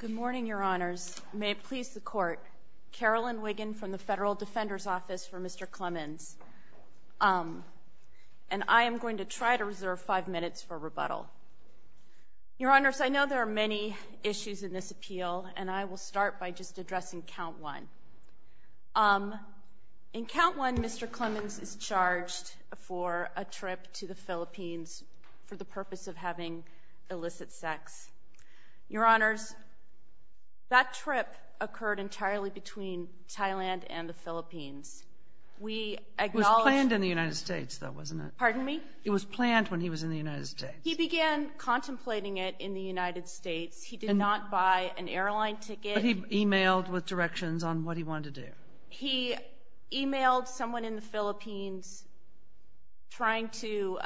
Good morning, Your Honors. May it please the Court, Carolyn Wiggin from the Federal Defender's Office for Mr. Clemans, and I am going to try to reserve five minutes for rebuttal. Your Honors, I know there are many issues in this appeal, and I will start by just addressing Count 1. In Count 1, Mr. Clemans is charged for a trip to the Philippines for the purpose of having illicit sex. Your Honors, that trip occurred entirely between Thailand and the Philippines. It was planned in the United States, though, wasn't it? Pardon me? It was planned when he was in the United States. He began contemplating it in the United States. He did not buy an airline ticket. But he emailed with directions on what he wanted to do. He emailed someone in the Philippines trying to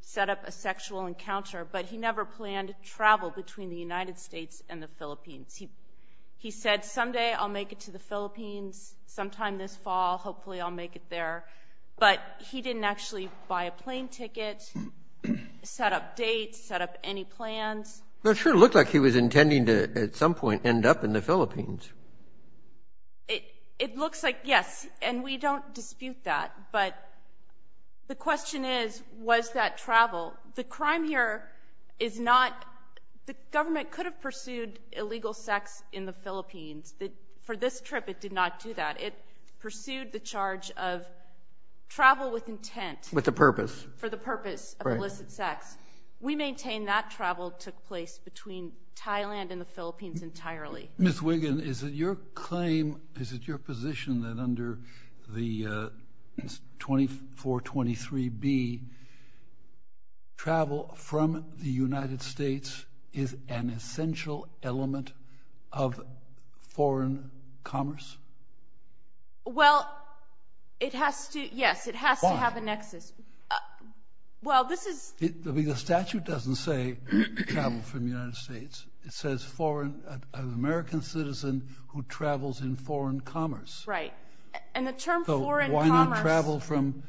set up a sexual encounter, but he never planned to travel between the United States and the Philippines. He said, Someday I'll make it to the Philippines, sometime this fall, hopefully I'll make it there. But he didn't actually buy a plane ticket, set up dates, set up any plans. It sure looked like he was intending to, at some point, end up in the Philippines. It looks like, yes, and we don't dispute that, but the question is, was that travel? The crime here is not the government could have pursued illegal sex in the Philippines. For this trip, it did not do that. It pursued the charge of travel with intent. With a purpose. For the purpose of illicit sex. We maintain that travel took place between Thailand and the Philippines entirely. Ms. Wiggin, is it your claim, is it your position that under the 2423B, travel from the United States is an essential element of foreign commerce? Well, it has to, yes, it has to have a nexus. Why? The statute doesn't say travel from the United States. It says an American citizen who travels in foreign commerce. Right. And the term foreign commerce. Why not travel from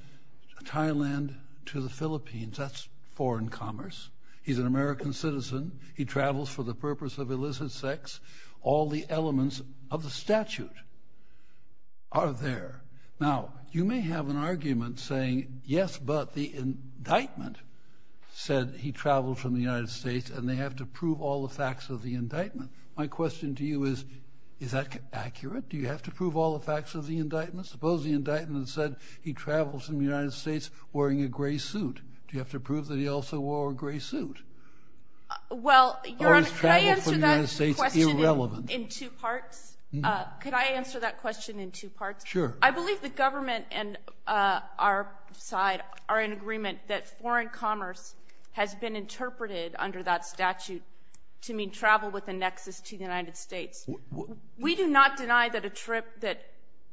Thailand to the Philippines? That's foreign commerce. He's an American citizen. He travels for the purpose of illicit sex. All the elements of the statute are there. Now, you may have an argument saying, yes, but the indictment said he traveled from the United States and they have to prove all the facts of the indictment. My question to you is, is that accurate? Do you have to prove all the facts of the indictment? Suppose the indictment said he traveled from the United States wearing a gray suit. Do you have to prove that he also wore a gray suit? Well, Your Honor, could I answer that question in two parts? Could I answer that question in two parts? Sure. I believe the government and our side are in agreement that foreign commerce has been interpreted under that statute to mean travel with a nexus to the United States. We do not deny that a trip that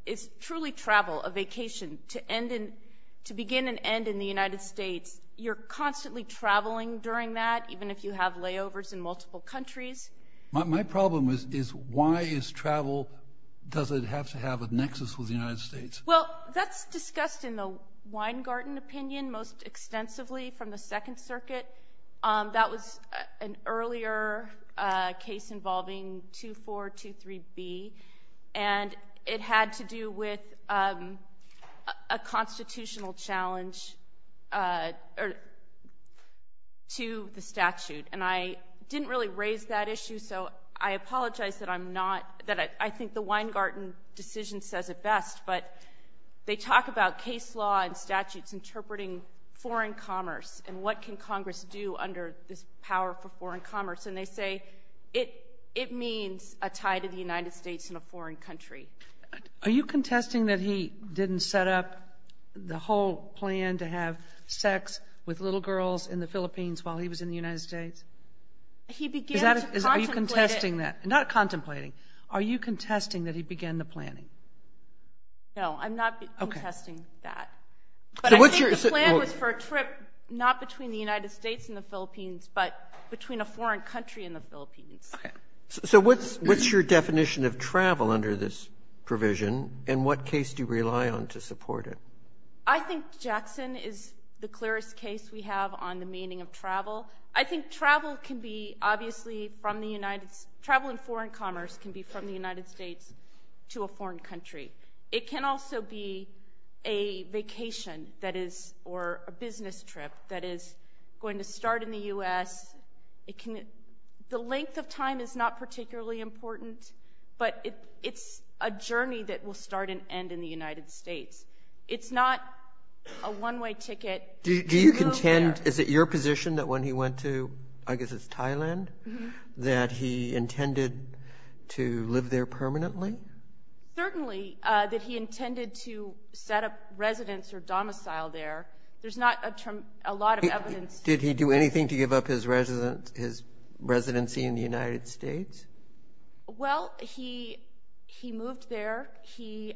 is truly travel, a vacation, to begin and end in the United States, you're constantly traveling during that, even if you have layovers in multiple countries. My problem is why is travel, does it have to have a nexus with the United States? Well, that's discussed in the Weingarten opinion most extensively from the Second Circuit. That was an earlier case involving 2423B, and it had to do with a constitutional challenge to the statute. And I didn't really raise that issue, so I apologize that I'm not, that I think the Weingarten decision says it best, but they talk about case law and statutes interpreting foreign commerce and what can Congress do under this power for foreign commerce, and they say it means a tie to the United States in a foreign country. Are you contesting that he didn't set up the whole plan to have sex with little girls in the Philippines while he was in the United States? He began to contemplate it. Are you contesting that? Not contemplating. Are you contesting that he began the planning? No, I'm not contesting that. But I think the plan was for a trip not between the United States and the Philippines, but between a foreign country and the Philippines. Okay. So what's your definition of travel under this provision, and what case do you rely on to support it? I think Jackson is the clearest case we have on the meaning of travel. I think travel can be obviously from the United States. Travel in foreign commerce can be from the United States to a foreign country. It can also be a vacation or a business trip that is going to start in the U.S. The length of time is not particularly important, but it's a journey that will start and end in the United States. It's not a one-way ticket. Do you contend, is it your position that when he went to, I guess it's Thailand, that he intended to live there permanently? Certainly, that he intended to set up residence or domicile there. There's not a lot of evidence. Did he do anything to give up his residency in the United States? Well, he moved there. He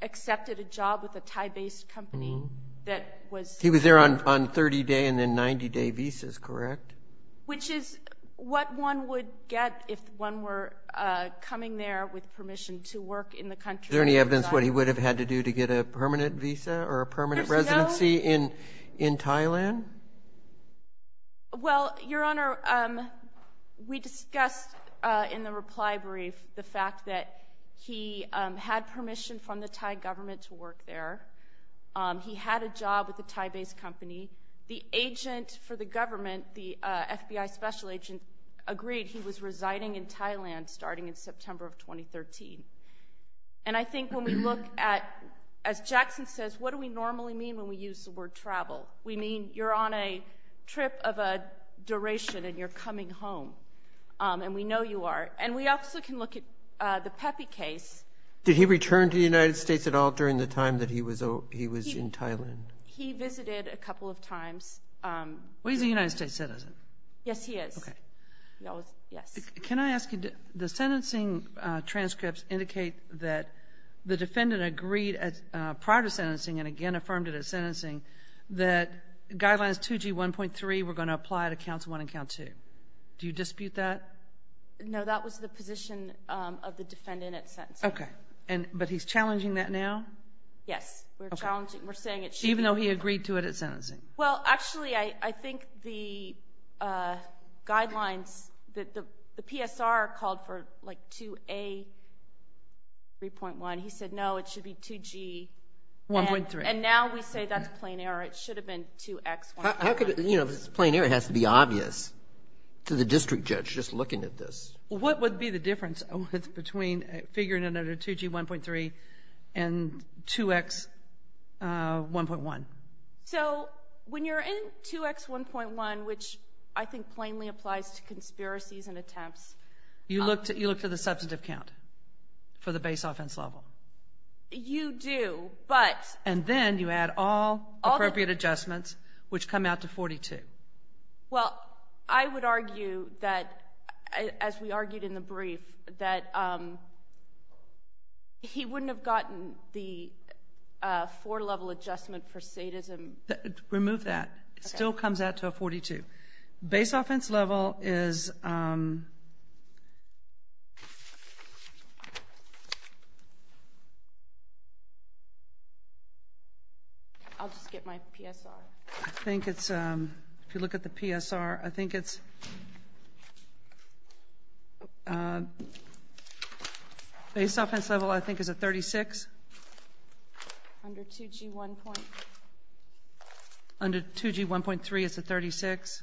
accepted a job with a Thai-based company that was there. He was there on 30-day and then 90-day visas, correct? Which is what one would get if one were coming there with permission to work in the country. Is there any evidence what he would have had to do to get a permanent visa or a permanent residency in Thailand? Well, Your Honor, we discussed in the reply brief the fact that he had permission from the Thai government to work there. He had a job with a Thai-based company. The agent for the government, the FBI special agent, agreed he was residing in Thailand starting in September of 2013. And I think when we look at, as Jackson says, what do we normally mean when we use the word travel? We mean you're on a trip of a duration and you're coming home, and we know you are. And we also can look at the Pepe case. Did he return to the United States at all during the time that he was in Thailand? He visited a couple of times. Well, he's a United States citizen. Yes, he is. Okay. Yes. Can I ask you, the sentencing transcripts indicate that the defendant agreed prior to sentencing and again affirmed it at sentencing that Guidelines 2G1.3 were going to apply to Counts 1 and Count 2. Do you dispute that? No, that was the position of the defendant at sentencing. Okay. But he's challenging that now? Yes. We're saying it should be. Even though he agreed to it at sentencing? Well, actually, I think the guidelines, the PSR called for like 2A3.1. He said, no, it should be 2G. 1.3. And now we say that's plain error. It should have been 2X1.1. You know, if it's plain error, it has to be obvious to the district judge just looking at this. What would be the difference between figuring out a 2G1.3 and 2X1.1? So when you're in 2X1.1, which I think plainly applies to conspiracies and attempts. You look to the substantive count for the base offense level? You do, but. And then you add all appropriate adjustments, which come out to 42. Well, I would argue that, as we argued in the brief, that he wouldn't have gotten the four-level adjustment for sadism. Remove that. It still comes out to a 42. Base offense level is. I'll just get my PSR. I think it's. If you look at the PSR, I think it's. Base offense level, I think, is a 36. Under 2G1. Under 2G1.3, it's a 36.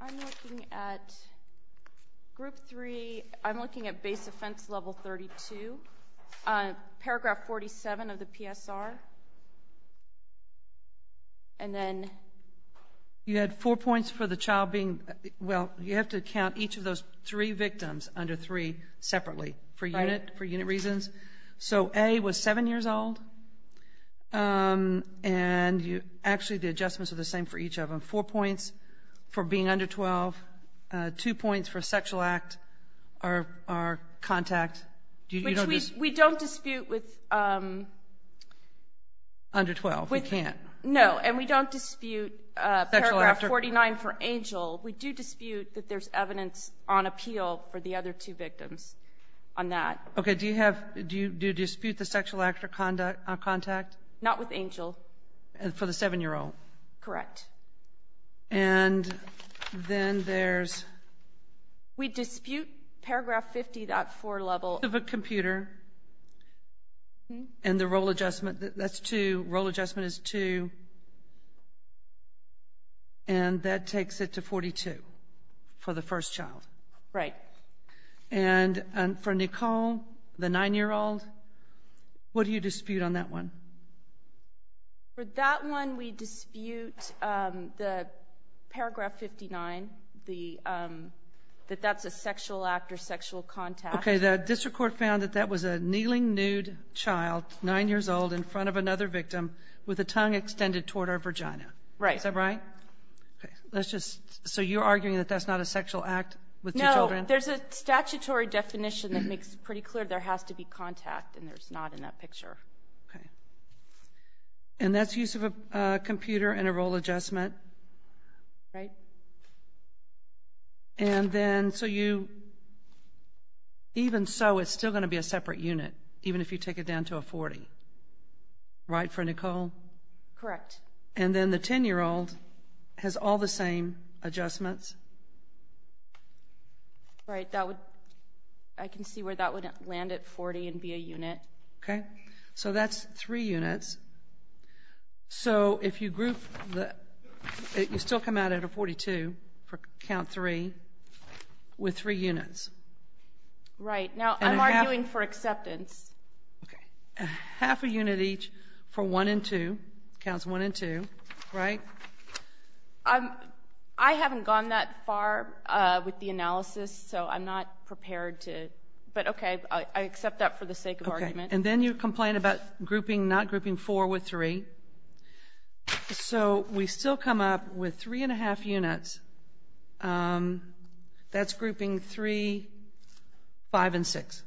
I'm looking at group three. I'm looking at base offense level 32, paragraph 47 of the PSR. And then. You had four points for the child being. Well, you have to count each of those three victims under three separately. Right. For unit reasons. So A was seven years old. And actually the adjustments are the same for each of them. Four points for being under 12. Two points for sexual act or contact. Which we don't dispute with. Under 12, we can't. No, and we don't dispute paragraph 49 for Angel. We do dispute that there's evidence on appeal for the other two victims on that. Okay. Do you dispute the sexual act or contact? Not with Angel. For the seven-year-old. Correct. And then there's. We dispute paragraph 50.4 level. Of a computer. And the role adjustment. That's two. Role adjustment is two. And that takes it to 42. For the first child. Right. And for Nicole, the nine-year-old. What do you dispute on that one? For that one, we dispute the paragraph 59. That that's a sexual act or sexual contact. Okay. The district court found that that was a kneeling nude child, nine years old, in front of another victim with a tongue extended toward her vagina. Right. Is that right? Okay. Let's just. So you're arguing that that's not a sexual act with two children? No. There's a statutory definition that makes it pretty clear there has to be contact. And there's not in that picture. Okay. And that's use of a computer and a role adjustment. Right. And then, so you. Even so, it's still going to be a separate unit. Even if you take it down to a 40. Right for Nicole? Correct. And then the 10-year-old has all the same adjustments. Right. That would. I can see where that would land at 40 and be a unit. Okay. So that's three units. So if you group. You still come out at a 42 for count three with three units. Right. Now, I'm arguing for acceptance. Okay. Half a unit each for one and two. Counts one and two. Right? I haven't gone that far with the analysis, so I'm not prepared to. But okay, I accept that for the sake of argument. And then you complain about grouping, not grouping four with three. So we still come up with three and a half units. That's grouping three, five, and six.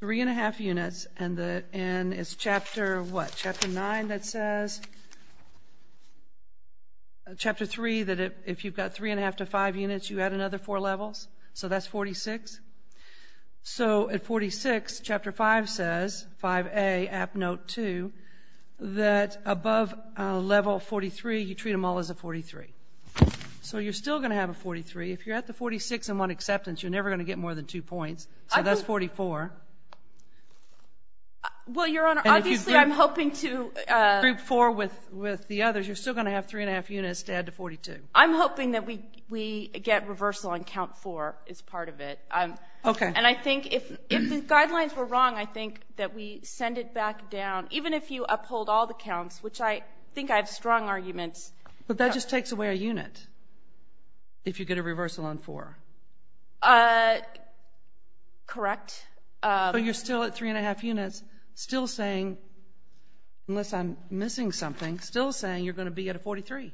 Three and a half units, and it's chapter what? Chapter nine that says. Chapter three that if you've got three and a half to five units, you add another four levels. So that's 46. So at 46, chapter five says, 5A, app note two, that above level 43, you treat them all as a 43. So you're still going to have a 43. If you're at the 46 and one acceptance, you're never going to get more than two points. So that's 44. Well, Your Honor, obviously I'm hoping to. And if you group four with the others, you're still going to have three and a half units to add to 42. I'm hoping that we get reversal on count four as part of it. Okay. And I think if the guidelines were wrong, I think that we send it back down. Even if you uphold all the counts, which I think I have strong arguments. But that just takes away a unit if you get a reversal on four. Correct. But you're still at three and a half units, still saying, unless I'm missing something, still saying you're going to be at a 43,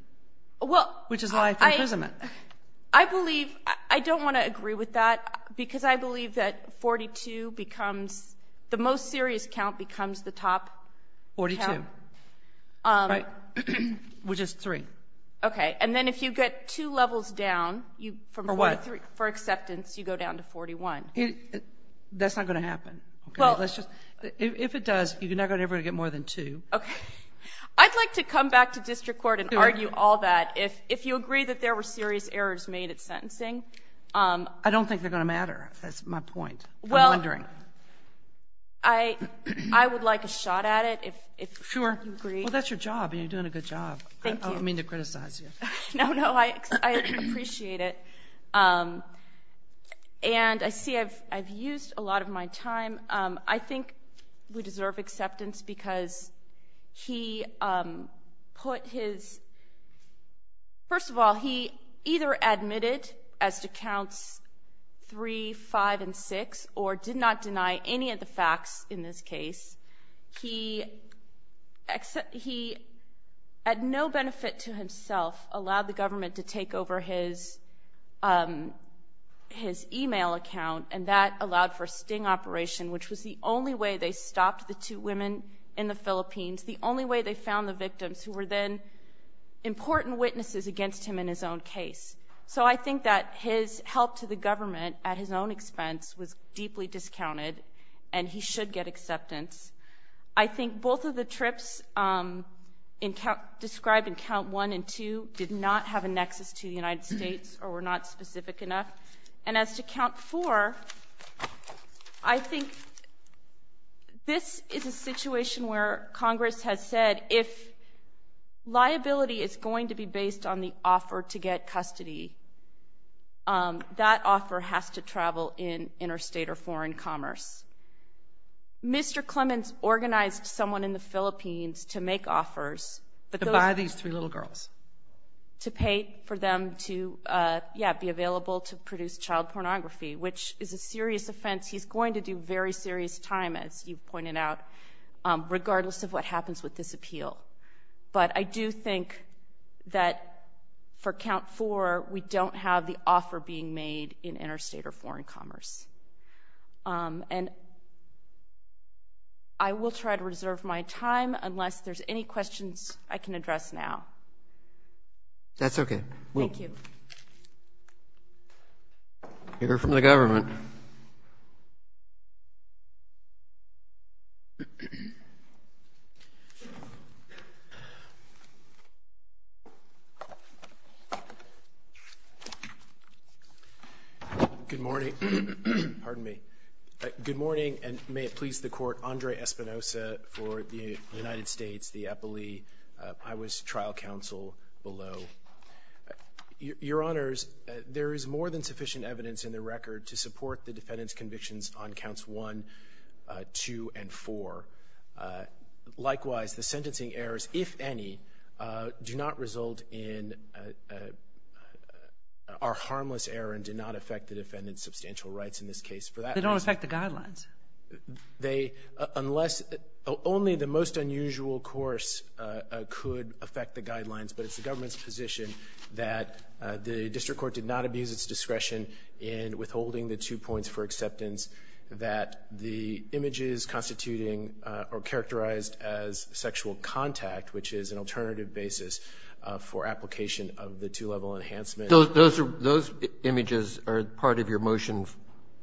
which is life imprisonment. I believe, I don't want to agree with that, because I believe that 42 becomes, the most serious count becomes the top. 42. Right. Which is three. Okay. And then if you get two levels down. For what? For acceptance, you go down to 41. That's not going to happen. If it does, you're not going to ever get more than two. Okay. I'd like to come back to district court and argue all that. If you agree that there were serious errors made at sentencing. I don't think they're going to matter. That's my point. I'm wondering. I would like a shot at it if you agree. Sure. Well, that's your job, and you're doing a good job. Thank you. I don't mean to criticize you. No, no, I appreciate it. And I see I've used a lot of my time. I think we deserve acceptance because he put his, first of all, he either admitted as to counts three, five, and six, or did not deny any of the facts in this case. He, at no benefit to himself, allowed the government to take over his e-mail account, and that allowed for a sting operation, which was the only way they stopped the two women in the Philippines, the only way they found the victims who were then important witnesses against him in his own case. So I think that his help to the government at his own expense was deeply discounted, and he should get acceptance. I think both of the trips described in count one and two did not have a nexus to the United States or were not specific enough. And as to count four, I think this is a situation where Congress has said if liability is going to be based on the offer to get custody, that offer has to travel in interstate or foreign commerce. Mr. Clemens organized someone in the Philippines to make offers. To buy these three little girls. To pay for them to, yeah, be available to produce child pornography, which is a serious offense. He's going to do very serious time, as you've pointed out, regardless of what happens with this appeal. But I do think that for count four, we don't have the offer being made in interstate or foreign commerce. And I will try to reserve my time unless there's any questions I can address now. That's okay. Thank you. We'll hear from the government. Government. Good morning. Pardon me. Good morning, and may it please the Court, Andre Espinosa for the United States, the Epilee, Iowa's trial counsel below. Your Honors, there is more than sufficient evidence in the record to support the defendant's convictions on counts one, two, and four. Likewise, the sentencing errors, if any, do not result in our harmless error and do not affect the defendant's substantial rights in this case. They don't affect the guidelines. They, unless, only the most unusual course could affect the guidelines, but it's the government's position that the district court did not abuse its discretion in withholding the two points for acceptance that the images constituting or characterized as sexual contact, which is an alternative basis for application of the two-level enhancement. Those images are part of your motion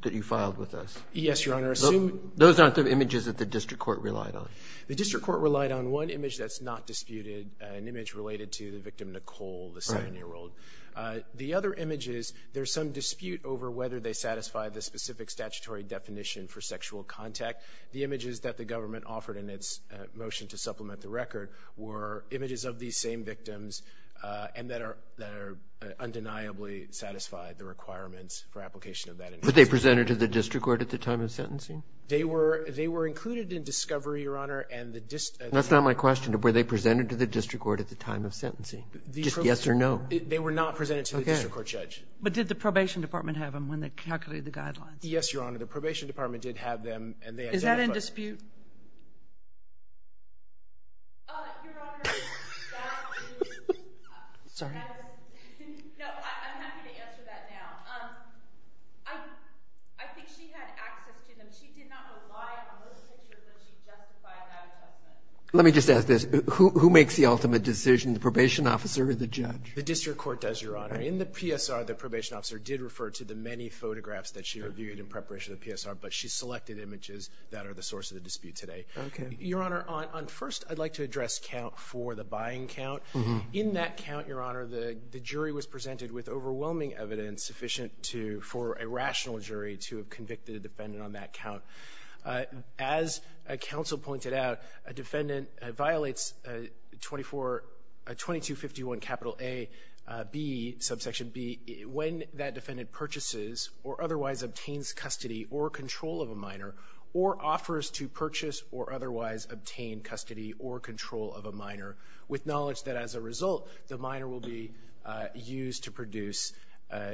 that you filed with us. Yes, Your Honor. Those aren't the images that the district court relied on. The district court relied on one image that's not disputed, an image related to the victim, Nicole, the 7-year-old. The other image is there's some dispute over whether they satisfy the specific statutory definition for sexual contact. The images that the government offered in its motion to supplement the record were images of these same victims and that are undeniably satisfied the requirements for application of that information. But they presented to the district court at the time of sentencing? They were included in discovery, Your Honor. That's not my question. Were they presented to the district court at the time of sentencing? Just yes or no. They were not presented to the district court, Judge. But did the probation department have them when they calculated the guidelines? Yes, Your Honor. The probation department did have them and they identified them. Is that in dispute? Your Honor, that is. Sorry. No, I'm happy to answer that now. I think she had access to them. But she did not rely on those pictures that she justified that assessment. Let me just ask this. Who makes the ultimate decision, the probation officer or the judge? The district court does, Your Honor. In the PSR, the probation officer did refer to the many photographs that she reviewed in preparation of the PSR, but she selected images that are the source of the dispute today. Okay. Your Honor, first I'd like to address count for the buying count. In that count, Your Honor, the jury was presented with overwhelming evidence sufficient for a rational jury to have convicted a defendant on that count. As counsel pointed out, a defendant violates 2251 Capital A, B, subsection B, when that defendant purchases or otherwise obtains custody or control of a minor or offers to purchase or otherwise obtain custody or control of a minor with knowledge that as a result, the minor will be used to produce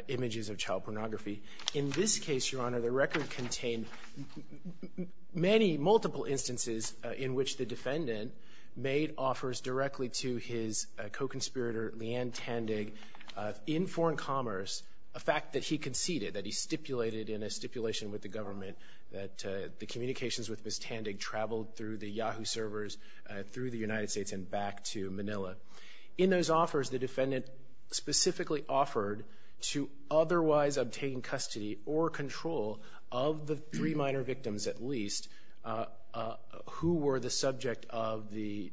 images of child pornography. In this case, Your Honor, the record contained many multiple instances in which the defendant made offers directly to his co-conspirator, Leanne Tandig, in foreign commerce, a fact that he conceded, that he stipulated in a stipulation with the government that the communications with Ms. Tandig traveled through the Yahoo servers, through the United States, and back to Manila. In those offers, the defendant specifically offered to otherwise obtain custody or control of the three minor victims, at least, who were the subject of the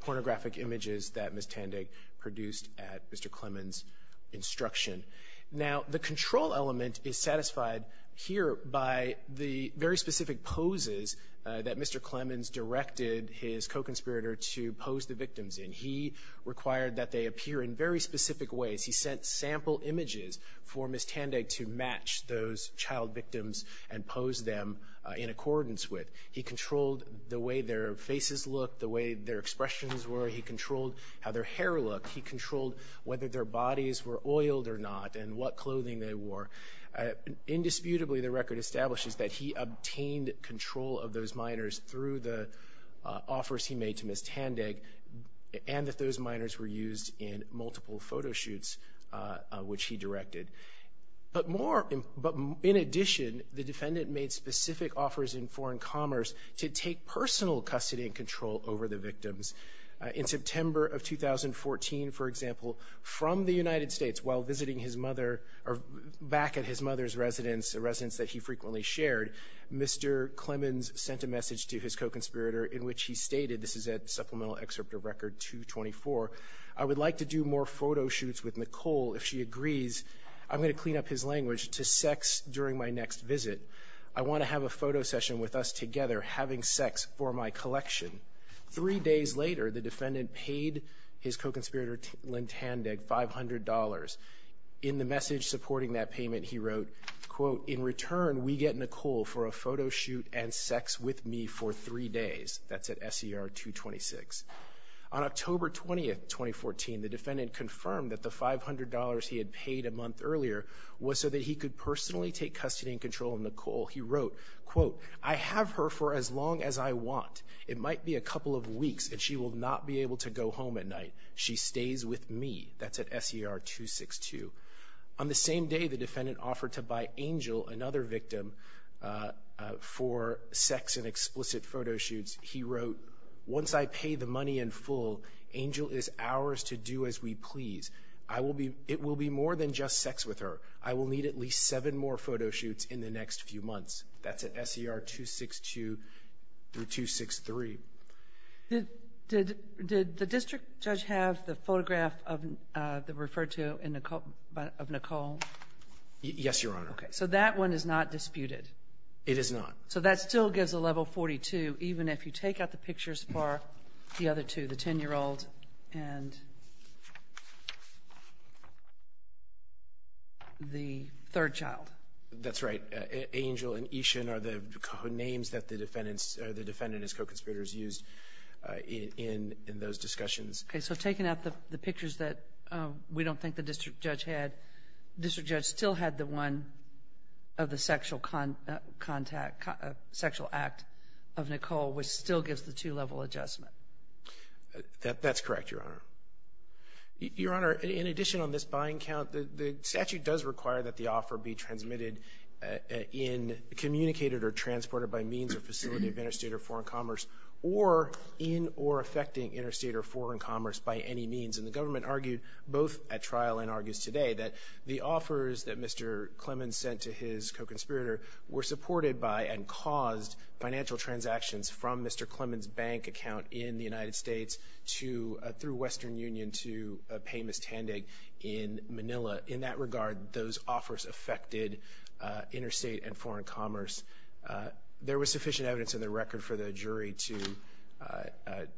pornographic images that Ms. Tandig produced at Mr. Clement's instruction. Now, the control element is satisfied here by the very specific poses that Mr. Clement's directed his co-conspirator to pose the victims in. He required that they appear in very specific ways. He sent sample images for Ms. Tandig to match those child victims and pose them in accordance with. He controlled the way their faces looked, the way their expressions were. He controlled how their hair looked. He controlled whether their bodies were oiled or not and what clothing they wore. Indisputably, the record establishes that he obtained control of those minors through the offers he made to Ms. Tandig and that those minors were used in multiple photo shoots, which he directed. But in addition, the defendant made specific offers in foreign commerce to take personal custody and control over the victims. In September of 2014, for example, from the United States while visiting his mother or back at his mother's residence, a residence that he frequently shared, Mr. Clement sent a message to his co-conspirator in which he stated, this is at Supplemental Excerpt of Record 224, I would like to do more photo shoots with Nicole. If she agrees, I'm going to clean up his language to sex during my next visit. I want to have a photo session with us together having sex for my collection. Three days later, the defendant paid his co-conspirator Lynn Tandig $500. In the message supporting that payment, he wrote, in return we get Nicole for a photo shoot and sex with me for three days. That's at SER 226. On October 20, 2014, the defendant confirmed that the $500 he had paid a month earlier was so that he could personally take custody and control of Nicole. He wrote, I have her for as long as I want. It might be a couple of weeks and she will not be able to go home at night. She stays with me. That's at SER 262. On the same day, the defendant offered to buy Angel, another victim, for sex and explicit photo shoots. He wrote, once I pay the money in full, Angel is ours to do as we please. It will be more than just sex with her. I will need at least seven more photo shoots in the next few months. That's at SER 262 through 263. Did the district judge have the photograph referred to of Nicole? Yes, Your Honor. So that one is not disputed? It is not. So that still gives a level 42 even if you take out the pictures for the other two, the 10-year-old and the third child? That's right. Angel and Ishan are the co-names that the defendant and his co-conspirators used in those discussions. Okay, so taking out the pictures that we don't think the district judge had, the district judge still had the one of the sexual act of Nicole, which still gives the two-level adjustment. That's correct, Your Honor. Your Honor, in addition on this buying count, the statute does require that the offer be transmitted in, communicated or transported by means or facility of interstate or foreign commerce or in or affecting interstate or foreign commerce by any means. And the government argued both at trial and argues today that the offers that Mr. Clemons sent to his co-conspirator were supported by and caused financial transactions from Mr. Clemons' bank account in the those offers affected interstate and foreign commerce. There was sufficient evidence in the record for the jury to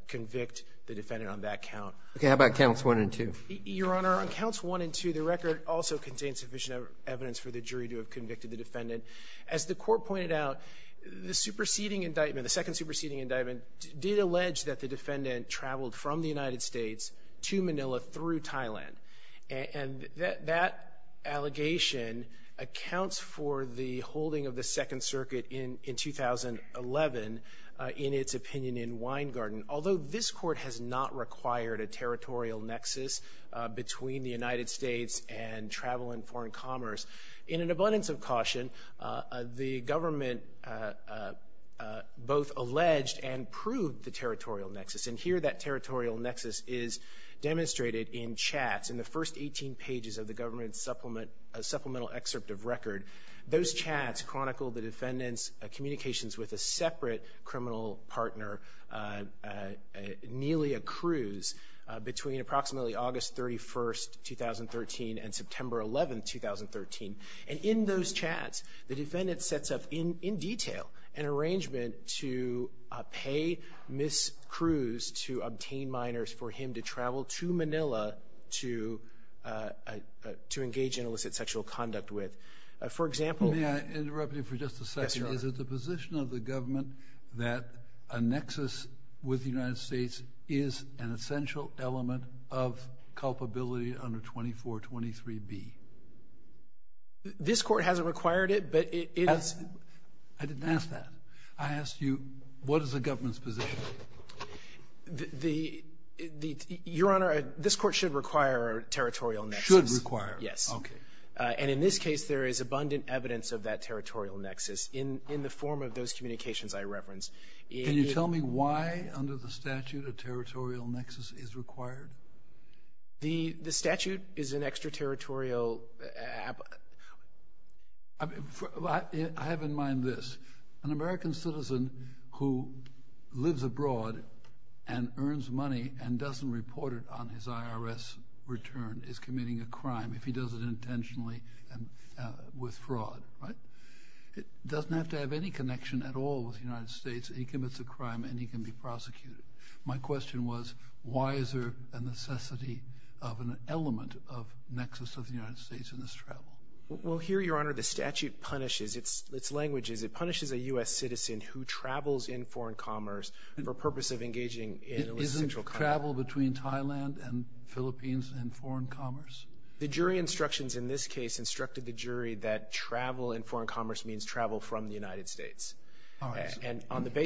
convict the defendant on that count. Okay, how about counts one and two? Your Honor, on counts one and two, the record also contains sufficient evidence for the jury to have convicted the defendant. As the court pointed out, the superseding indictment, the second superseding indictment, did allege that the defendant traveled from the United States to Manila through Thailand. And that allegation accounts for the holding of the Second Circuit in 2011 in its opinion in Weingarten. Although this court has not required a territorial nexus between the United States and travel and foreign commerce, in an abundance of caution the government both alleged and proved the territorial nexus. And here that territorial nexus is demonstrated in chats. In the first 18 pages of the government supplemental excerpt of record, those chats chronicled the defendant's communications with a separate criminal partner, Nelia Cruz, between approximately August 31st, 2013 and September 11th, 2013. And in those chats the defendant sets up in detail an arrangement to pay Ms. Cruz to obtain minors for him to travel to Manila to engage in illicit sexual conduct with. For example. May I interrupt you for just a second? Yes, sir. Is it the position of the government that a nexus with the United States is an essential element of culpability under 2423B? This court hasn't required it, but it is. I didn't ask that. I asked you what is the government's position. Your Honor, this court should require a territorial nexus. Should require it. Yes. Okay. And in this case there is abundant evidence of that territorial nexus in the form of those communications I referenced. Can you tell me why under the statute a territorial nexus is required? The statute is an extraterritorial. I have in mind this. An American citizen who lives abroad and earns money and doesn't report it on his IRS return is committing a crime if he does it intentionally with fraud. Right? It doesn't have to have any connection at all with the United States. He commits a crime and he can be prosecuted. My question was why is there a necessity of an element of nexus of the United States in this travel? Well, here, Your Honor, the statute punishes. Its language is it punishes a U.S. citizen who travels in foreign commerce for purpose of engaging in illicit sexual contact. Isn't travel between Thailand and the Philippines in foreign commerce? The jury instructions in this case instructed the jury that travel in foreign commerce means travel from the United States. All right.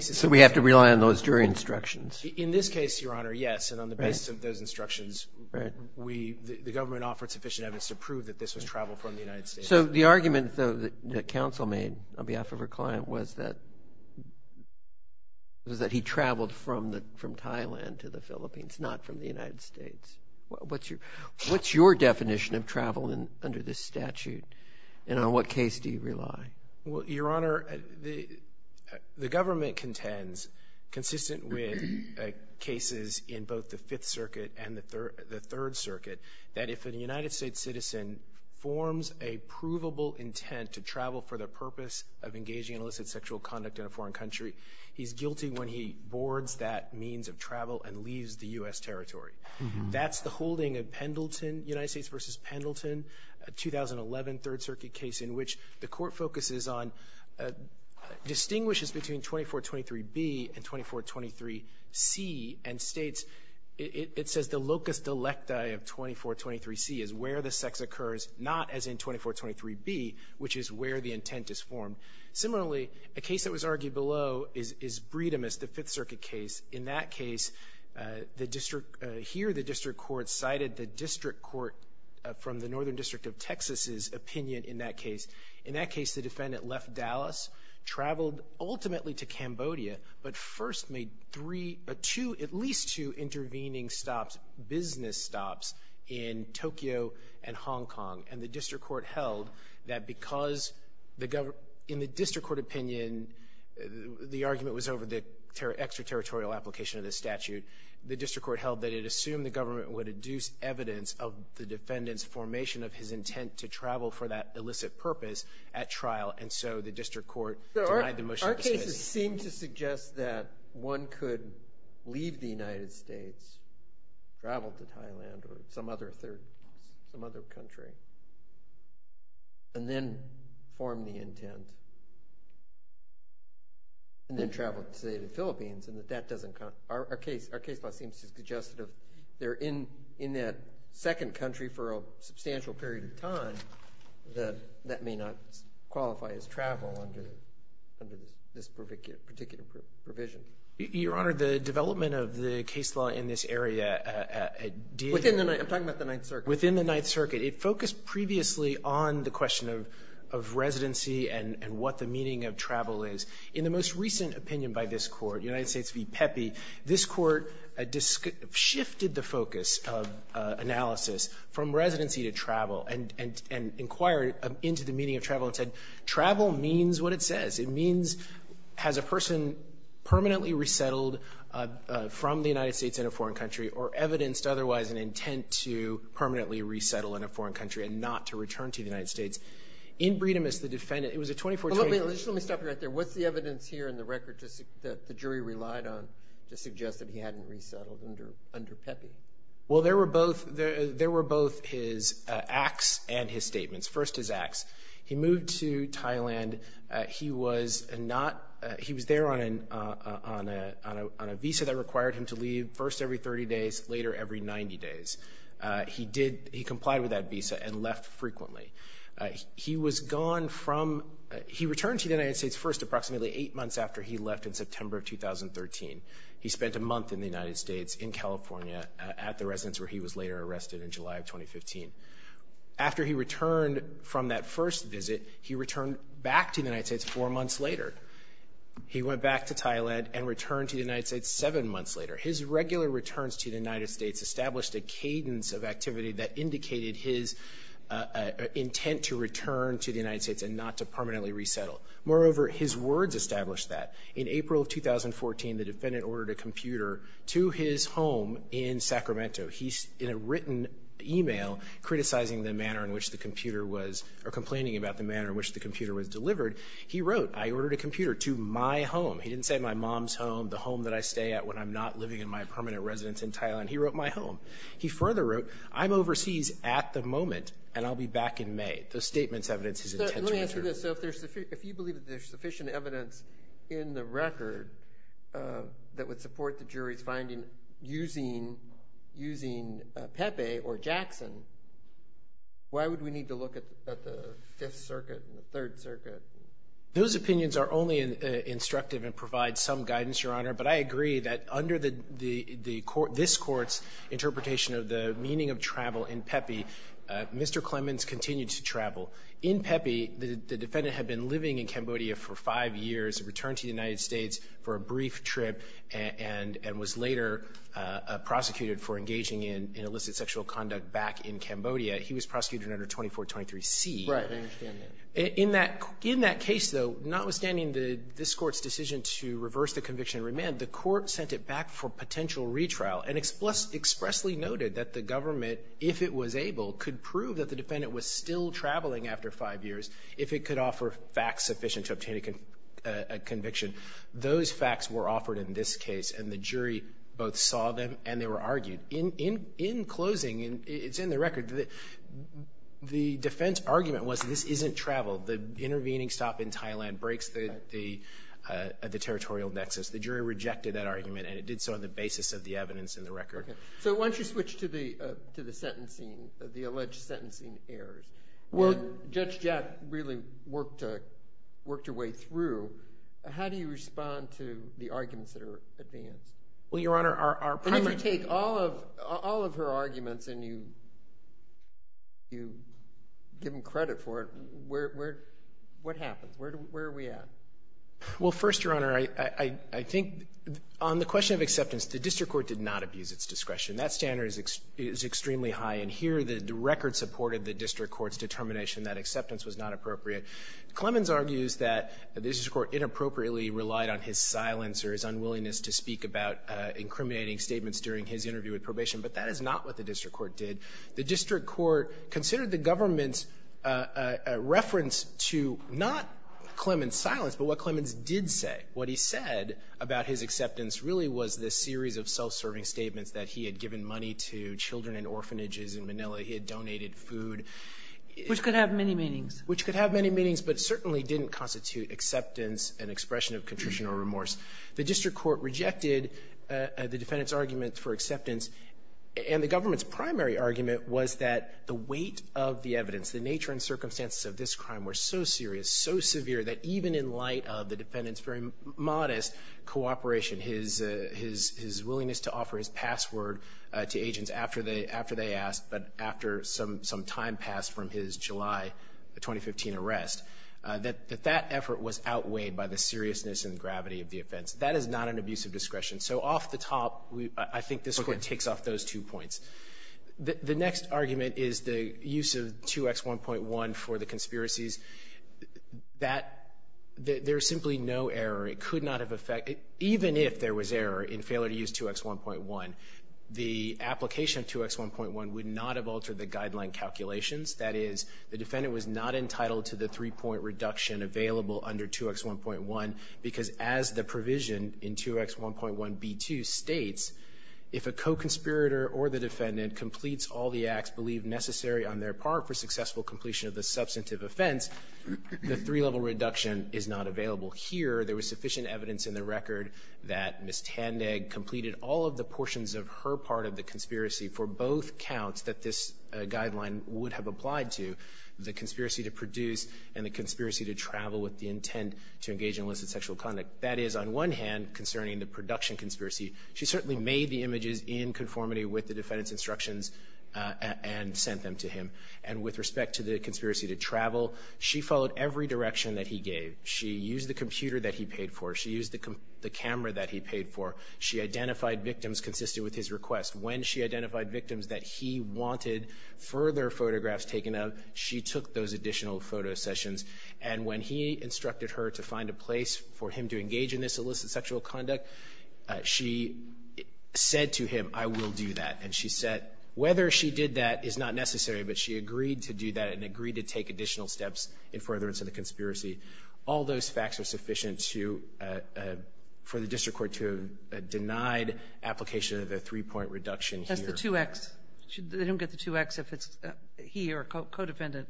So we have to rely on those jury instructions. In this case, Your Honor, yes. And on the basis of those instructions, the government offered sufficient evidence to prove that this was travel from the United States. So the argument, though, that counsel made on behalf of her client was that he traveled from Thailand to the Philippines, not from the United States. What's your definition of travel under this statute? And on what case do you rely? Well, Your Honor, the government contends, consistent with cases in both the Fifth Circuit and the Third Circuit, that if a United States citizen forms a provable intent to travel for the purpose of engaging in illicit sexual conduct in a foreign country, he's guilty when he boards that means of travel and leaves the U.S. territory. That's the holding of Pendleton, United States v. Pendleton, a 2011 Third Circuit case in which the Court focuses on, distinguishes between 2423b and 2423c and states it says the locus delectae of 2423c is where the sex occurs, not as in 2423b, which is where the intent is formed. Similarly, a case that was argued below is Breedemist, the Fifth Circuit case. In that case, the district – here the district court cited the district court from the Northern District of Texas's opinion in that case. In that case, the defendant left Dallas, traveled ultimately to Cambodia, but first made three – two, at least two intervening stops, business stops in Tokyo and Hong Kong. And the district court held that because the – in the district court opinion, the argument was over the extraterritorial application of the statute. The district court held that it assumed the government would adduce evidence of the violation of his intent to travel for that illicit purpose at trial, and so the district court denied the motion. Our cases seem to suggest that one could leave the United States, travel to Thailand or some other third – some other country, and then form the intent, and then travel to, say, the Philippines, and that that doesn't – our case – our case law seems to suggest that if they're in that second country for a substantial period of time, that that may not qualify as travel under this particular provision. Your Honor, the development of the case law in this area – Within the – I'm talking about the Ninth Circuit. Within the Ninth Circuit. It focused previously on the question of residency and what the meaning of travel is. In the most recent opinion by this Court, United States v. Pepe, this Court shifted the focus of analysis from residency to travel and – and inquired into the meaning of travel and said travel means what it says. It means has a person permanently resettled from the United States in a foreign country or evidenced otherwise an intent to permanently resettle in a foreign Is there any evidence here in the record to – that the jury relied on to suggest that he hadn't resettled under Pepe? Well, there were both – there were both his acts and his statements. First, his acts. He moved to Thailand. He was not – he was there on a visa that required him to leave first every 30 days, later every 90 days. He did – he complied with that visa and left frequently. He was gone from – he returned to the United States first approximately eight months after he left in September of 2013. He spent a month in the United States in California at the residence where he was later arrested in July of 2015. After he returned from that first visit, he returned back to the United States four months later. He went back to Thailand and returned to the United States seven months later. His regular returns to the United States established a cadence of activity that intent to return to the United States and not to permanently resettle. Moreover, his words established that. In April of 2014, the defendant ordered a computer to his home in Sacramento. In a written email criticizing the manner in which the computer was – or complaining about the manner in which the computer was delivered, he wrote, I ordered a computer to my home. He didn't say my mom's home, the home that I stay at when I'm not living in my permanent residence in Thailand. He wrote my home. He further wrote, I'm overseas at the moment and I'll be back in May. Those statements evidence his intent to return. Let me answer this. So if there's – if you believe that there's sufficient evidence in the record that would support the jury's finding using Pepe or Jackson, why would we need to look at the Fifth Circuit and the Third Circuit? Those opinions are only instructive and provide some guidance, Your Honor, but I agree that under this Court's interpretation of the meaning of travel in Pepe, Mr. Clemens continued to travel. In Pepe, the defendant had been living in Cambodia for five years, returned to the United States for a brief trip, and was later prosecuted for engaging in illicit sexual conduct back in Cambodia. He was prosecuted under 2423C. Right. I understand that. In that case, though, notwithstanding this Court's decision to reverse the conviction and remand, the Court sent it back for potential retrial and expressly noted that the government, if it was able, could prove that the defendant was still traveling after five years if it could offer facts sufficient to obtain a conviction. Those facts were offered in this case, and the jury both saw them and they were argued. In closing, and it's in the record, the defense argument was this isn't travel. The intervening stop in Thailand breaks the territorial nexus. The jury rejected that argument, and it did so on the basis of the evidence in the record. So why don't you switch to the sentencing, the alleged sentencing errors. Judge Jett really worked her way through. How do you respond to the arguments that are advanced? Well, Your Honor, our primary— If you take all of her arguments and you give them credit for it, what happens? Where are we at? Well, first, Your Honor, I think on the question of acceptance, the district court did not abuse its discretion. That standard is extremely high, and here the record supported the district court's determination that acceptance was not appropriate. Clemens argues that the district court inappropriately relied on his silence or his unwillingness to speak about incriminating statements during his interview with probation, but that is not what the district court did. The district court considered the government's reference to not Clemens' silence, but what Clemens did say. What he said about his acceptance really was this series of self-serving statements that he had given money to children in orphanages in Manila. He had donated food. Which could have many meanings. Which could have many meanings, but certainly didn't constitute acceptance and expression of contrition or remorse. The district court rejected the defendant's argument for acceptance, and the government's argument was that the weight of the evidence, the nature and circumstances of this crime were so serious, so severe, that even in light of the defendant's very modest cooperation, his willingness to offer his password to agents after they asked, but after some time passed from his July 2015 arrest, that that effort was outweighed by the seriousness and gravity of the offense. That is not an abuse of discretion. So off the top, I think this court takes off those two points. The next argument is the use of 2X1.1 for the conspiracies. That, there is simply no error. It could not have affected, even if there was error in failure to use 2X1.1, the application of 2X1.1 would not have altered the guideline calculations. That is, the defendant was not entitled to the three-point reduction available under 2X1.1, because as the provision in 2X1.1b2 states, if a co-conspirator or the defendant completes all the acts believed necessary on their part for successful completion of the substantive offense, the three-level reduction is not available here. There was sufficient evidence in the record that Ms. Tandag completed all of the portions of her part of the conspiracy for both counts that this guideline would have applied to, the conspiracy to produce and the conspiracy to travel with the intent to engage in illicit sexual conduct. That is, on one hand, concerning the production conspiracy. She certainly made the images in conformity with the defendant's instructions and sent them to him. And with respect to the conspiracy to travel, she followed every direction that he gave. She used the computer that he paid for. She used the camera that he paid for. She identified victims consistent with his request. When she identified victims that he wanted further photographs taken of, she took those additional photo sessions. And when he instructed her to find a place for him to engage in this illicit sexual conduct, she said to him, I will do that. And she said whether she did that is not necessary, but she agreed to do that and agreed to take additional steps in furtherance of the conspiracy. All those facts are sufficient for the district court to have denied application of the three-point reduction here. That's the 2X. They don't get the 2X if he or a co-defendant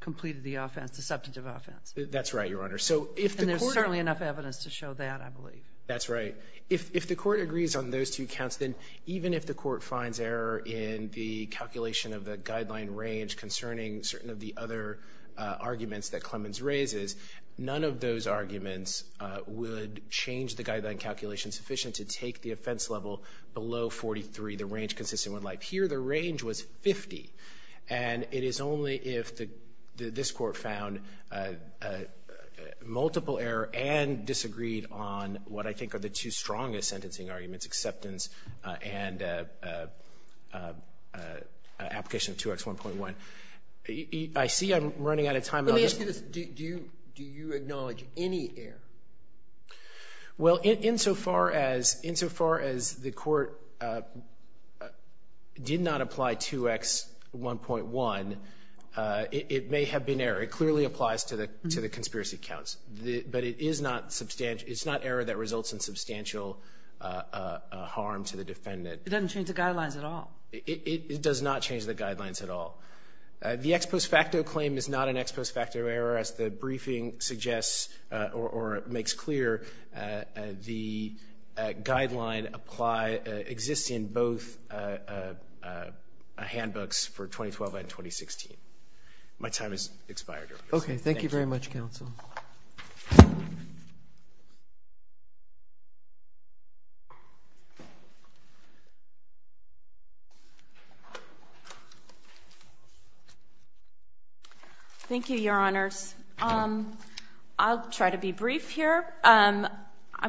completed the offense, the substantive offense. That's right, Your Honor. And there's certainly enough evidence to show that, I believe. That's right. If the court agrees on those two counts, then even if the court finds error in the calculation of the guideline range concerning certain of the other arguments that Clemens raises, none of those arguments would change the guideline calculation sufficient to take the offense level below 43, the range consistent with life. Here the range was 50, and it is only if this court found multiple error and disagreed on what I think are the two strongest sentencing arguments, acceptance and application of 2X1.1. I see I'm running out of time. Let me ask you this. Do you acknowledge any error? Well, insofar as the court did not apply 2X1.1, it may have been error. It clearly applies to the conspiracy counts. But it is not error that results in substantial harm to the defendant. It doesn't change the guidelines at all. It does not change the guidelines at all. The ex post facto claim is not an ex post facto error, as the briefing suggests or makes clear. The guideline exists in both handbooks for 2012 and 2016. My time has expired. Okay. Thank you very much, counsel. Thank you, Your Honors. I'll try to be brief here. I'm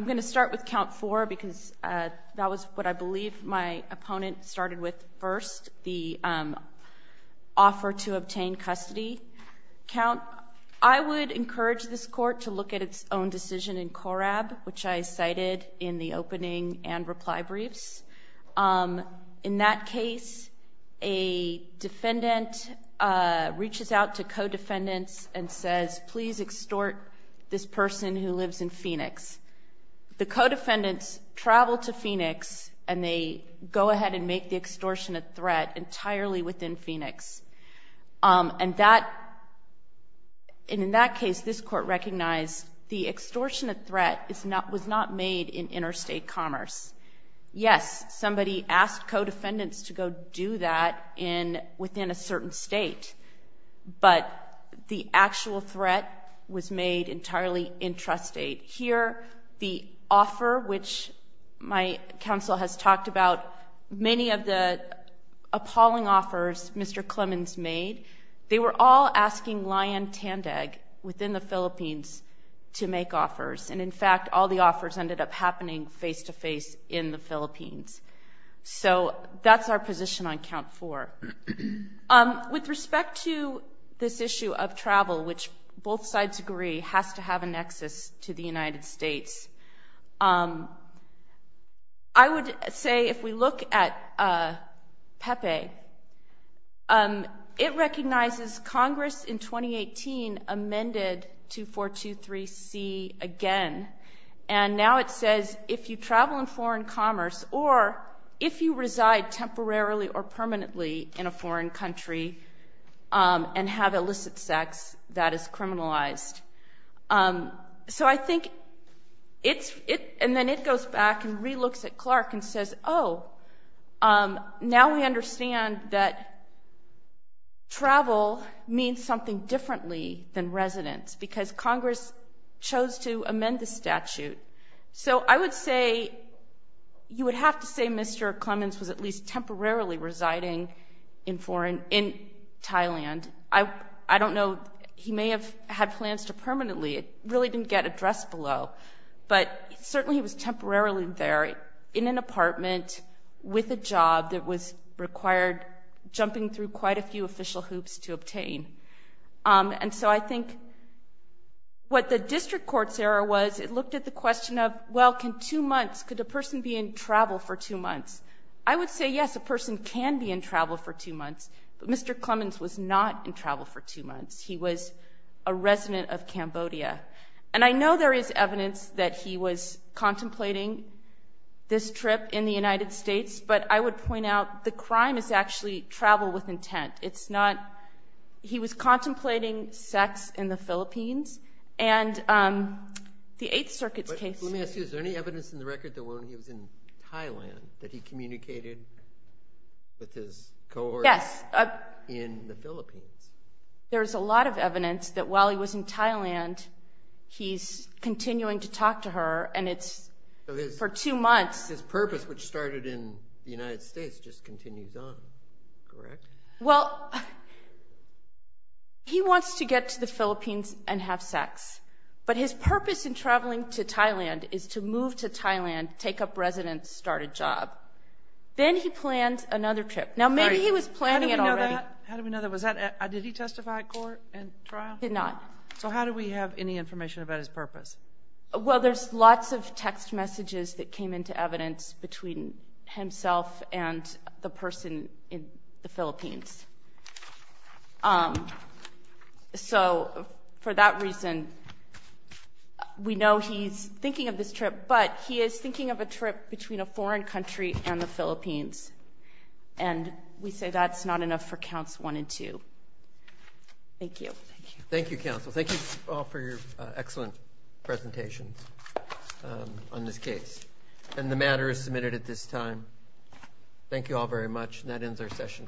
going to start with count four because that was what I believe my opponent started with first, the offer to obtain custody count. I would encourage this court to look at its own decision in Corab, which I cited in the opening and reply briefs. In that case, a defendant reaches out to co-defendants and says, please extort this person who lives in Phoenix. The co-defendants travel to Phoenix and they go ahead and make the extortionate threat entirely within Phoenix. And in that case, this court recognized the extortionate threat was not made in interstate commerce. Yes, somebody asked co-defendants to go do that within a certain state, but the actual threat was made entirely intrastate. Here, the offer, which my counsel has talked about, many of the appalling offers Mr. Clemons made, they were all asking Lyon Tandag within the Philippines to make offers. And, in fact, all the offers ended up happening face-to-face in the Philippines. So that's our position on count four. With respect to this issue of travel, which both sides agree has to have a nexus to the United States, I would say if we look at Pepe, it recognizes Congress in 2018 amended 2423C again, and now it says if you travel in foreign commerce or if you reside temporarily or permanently in a foreign country and have illicit sex, that is criminalized. So I think it's – and then it goes back and re-looks at Clark and says, oh, now we understand that travel means something differently than residence because Congress chose to amend the statute. So I would say you would have to say Mr. Clemons was at least temporarily residing in Thailand. I don't know. He may have had plans to permanently. It really didn't get addressed below. But certainly he was temporarily there in an apartment with a job that was required, jumping through quite a few official hoops to obtain. And so I think what the district court's error was, it looked at the question of, well, can two months – could a person be in travel for two months? I would say, yes, a person can be in travel for two months, but Mr. Clemons was not in travel for two months. He was a resident of Cambodia. And I know there is evidence that he was contemplating this trip in the United States, but I would point out the crime is actually travel with intent. It's not – he was contemplating sex in the Philippines. And the Eighth Circuit's case – But let me ask you, is there any evidence in the record that when he was in Thailand that he communicated with his cohorts in the Philippines? There's a lot of evidence that while he was in Thailand, he's continuing to talk to her, and it's for two months. So his purpose, which started in the United States, just continues on, correct? Well, he wants to get to the Philippines and have sex. But his purpose in traveling to Thailand is to move to Thailand, take up residence, start a job. Then he plans another trip. Now, maybe he was planning it already. How do we know that? Did he testify at court and trial? He did not. So how do we have any information about his purpose? Well, there's lots of text messages that came into evidence between himself and the person in the Philippines. So for that reason, we know he's thinking of this trip, but he is thinking of a trip between a foreign country and the Philippines. And we say that's not enough for Counts 1 and 2. Thank you. Thank you, counsel. Thank you all for your excellent presentations on this case. And the matter is submitted at this time. Thank you all very much. And that ends our session for today.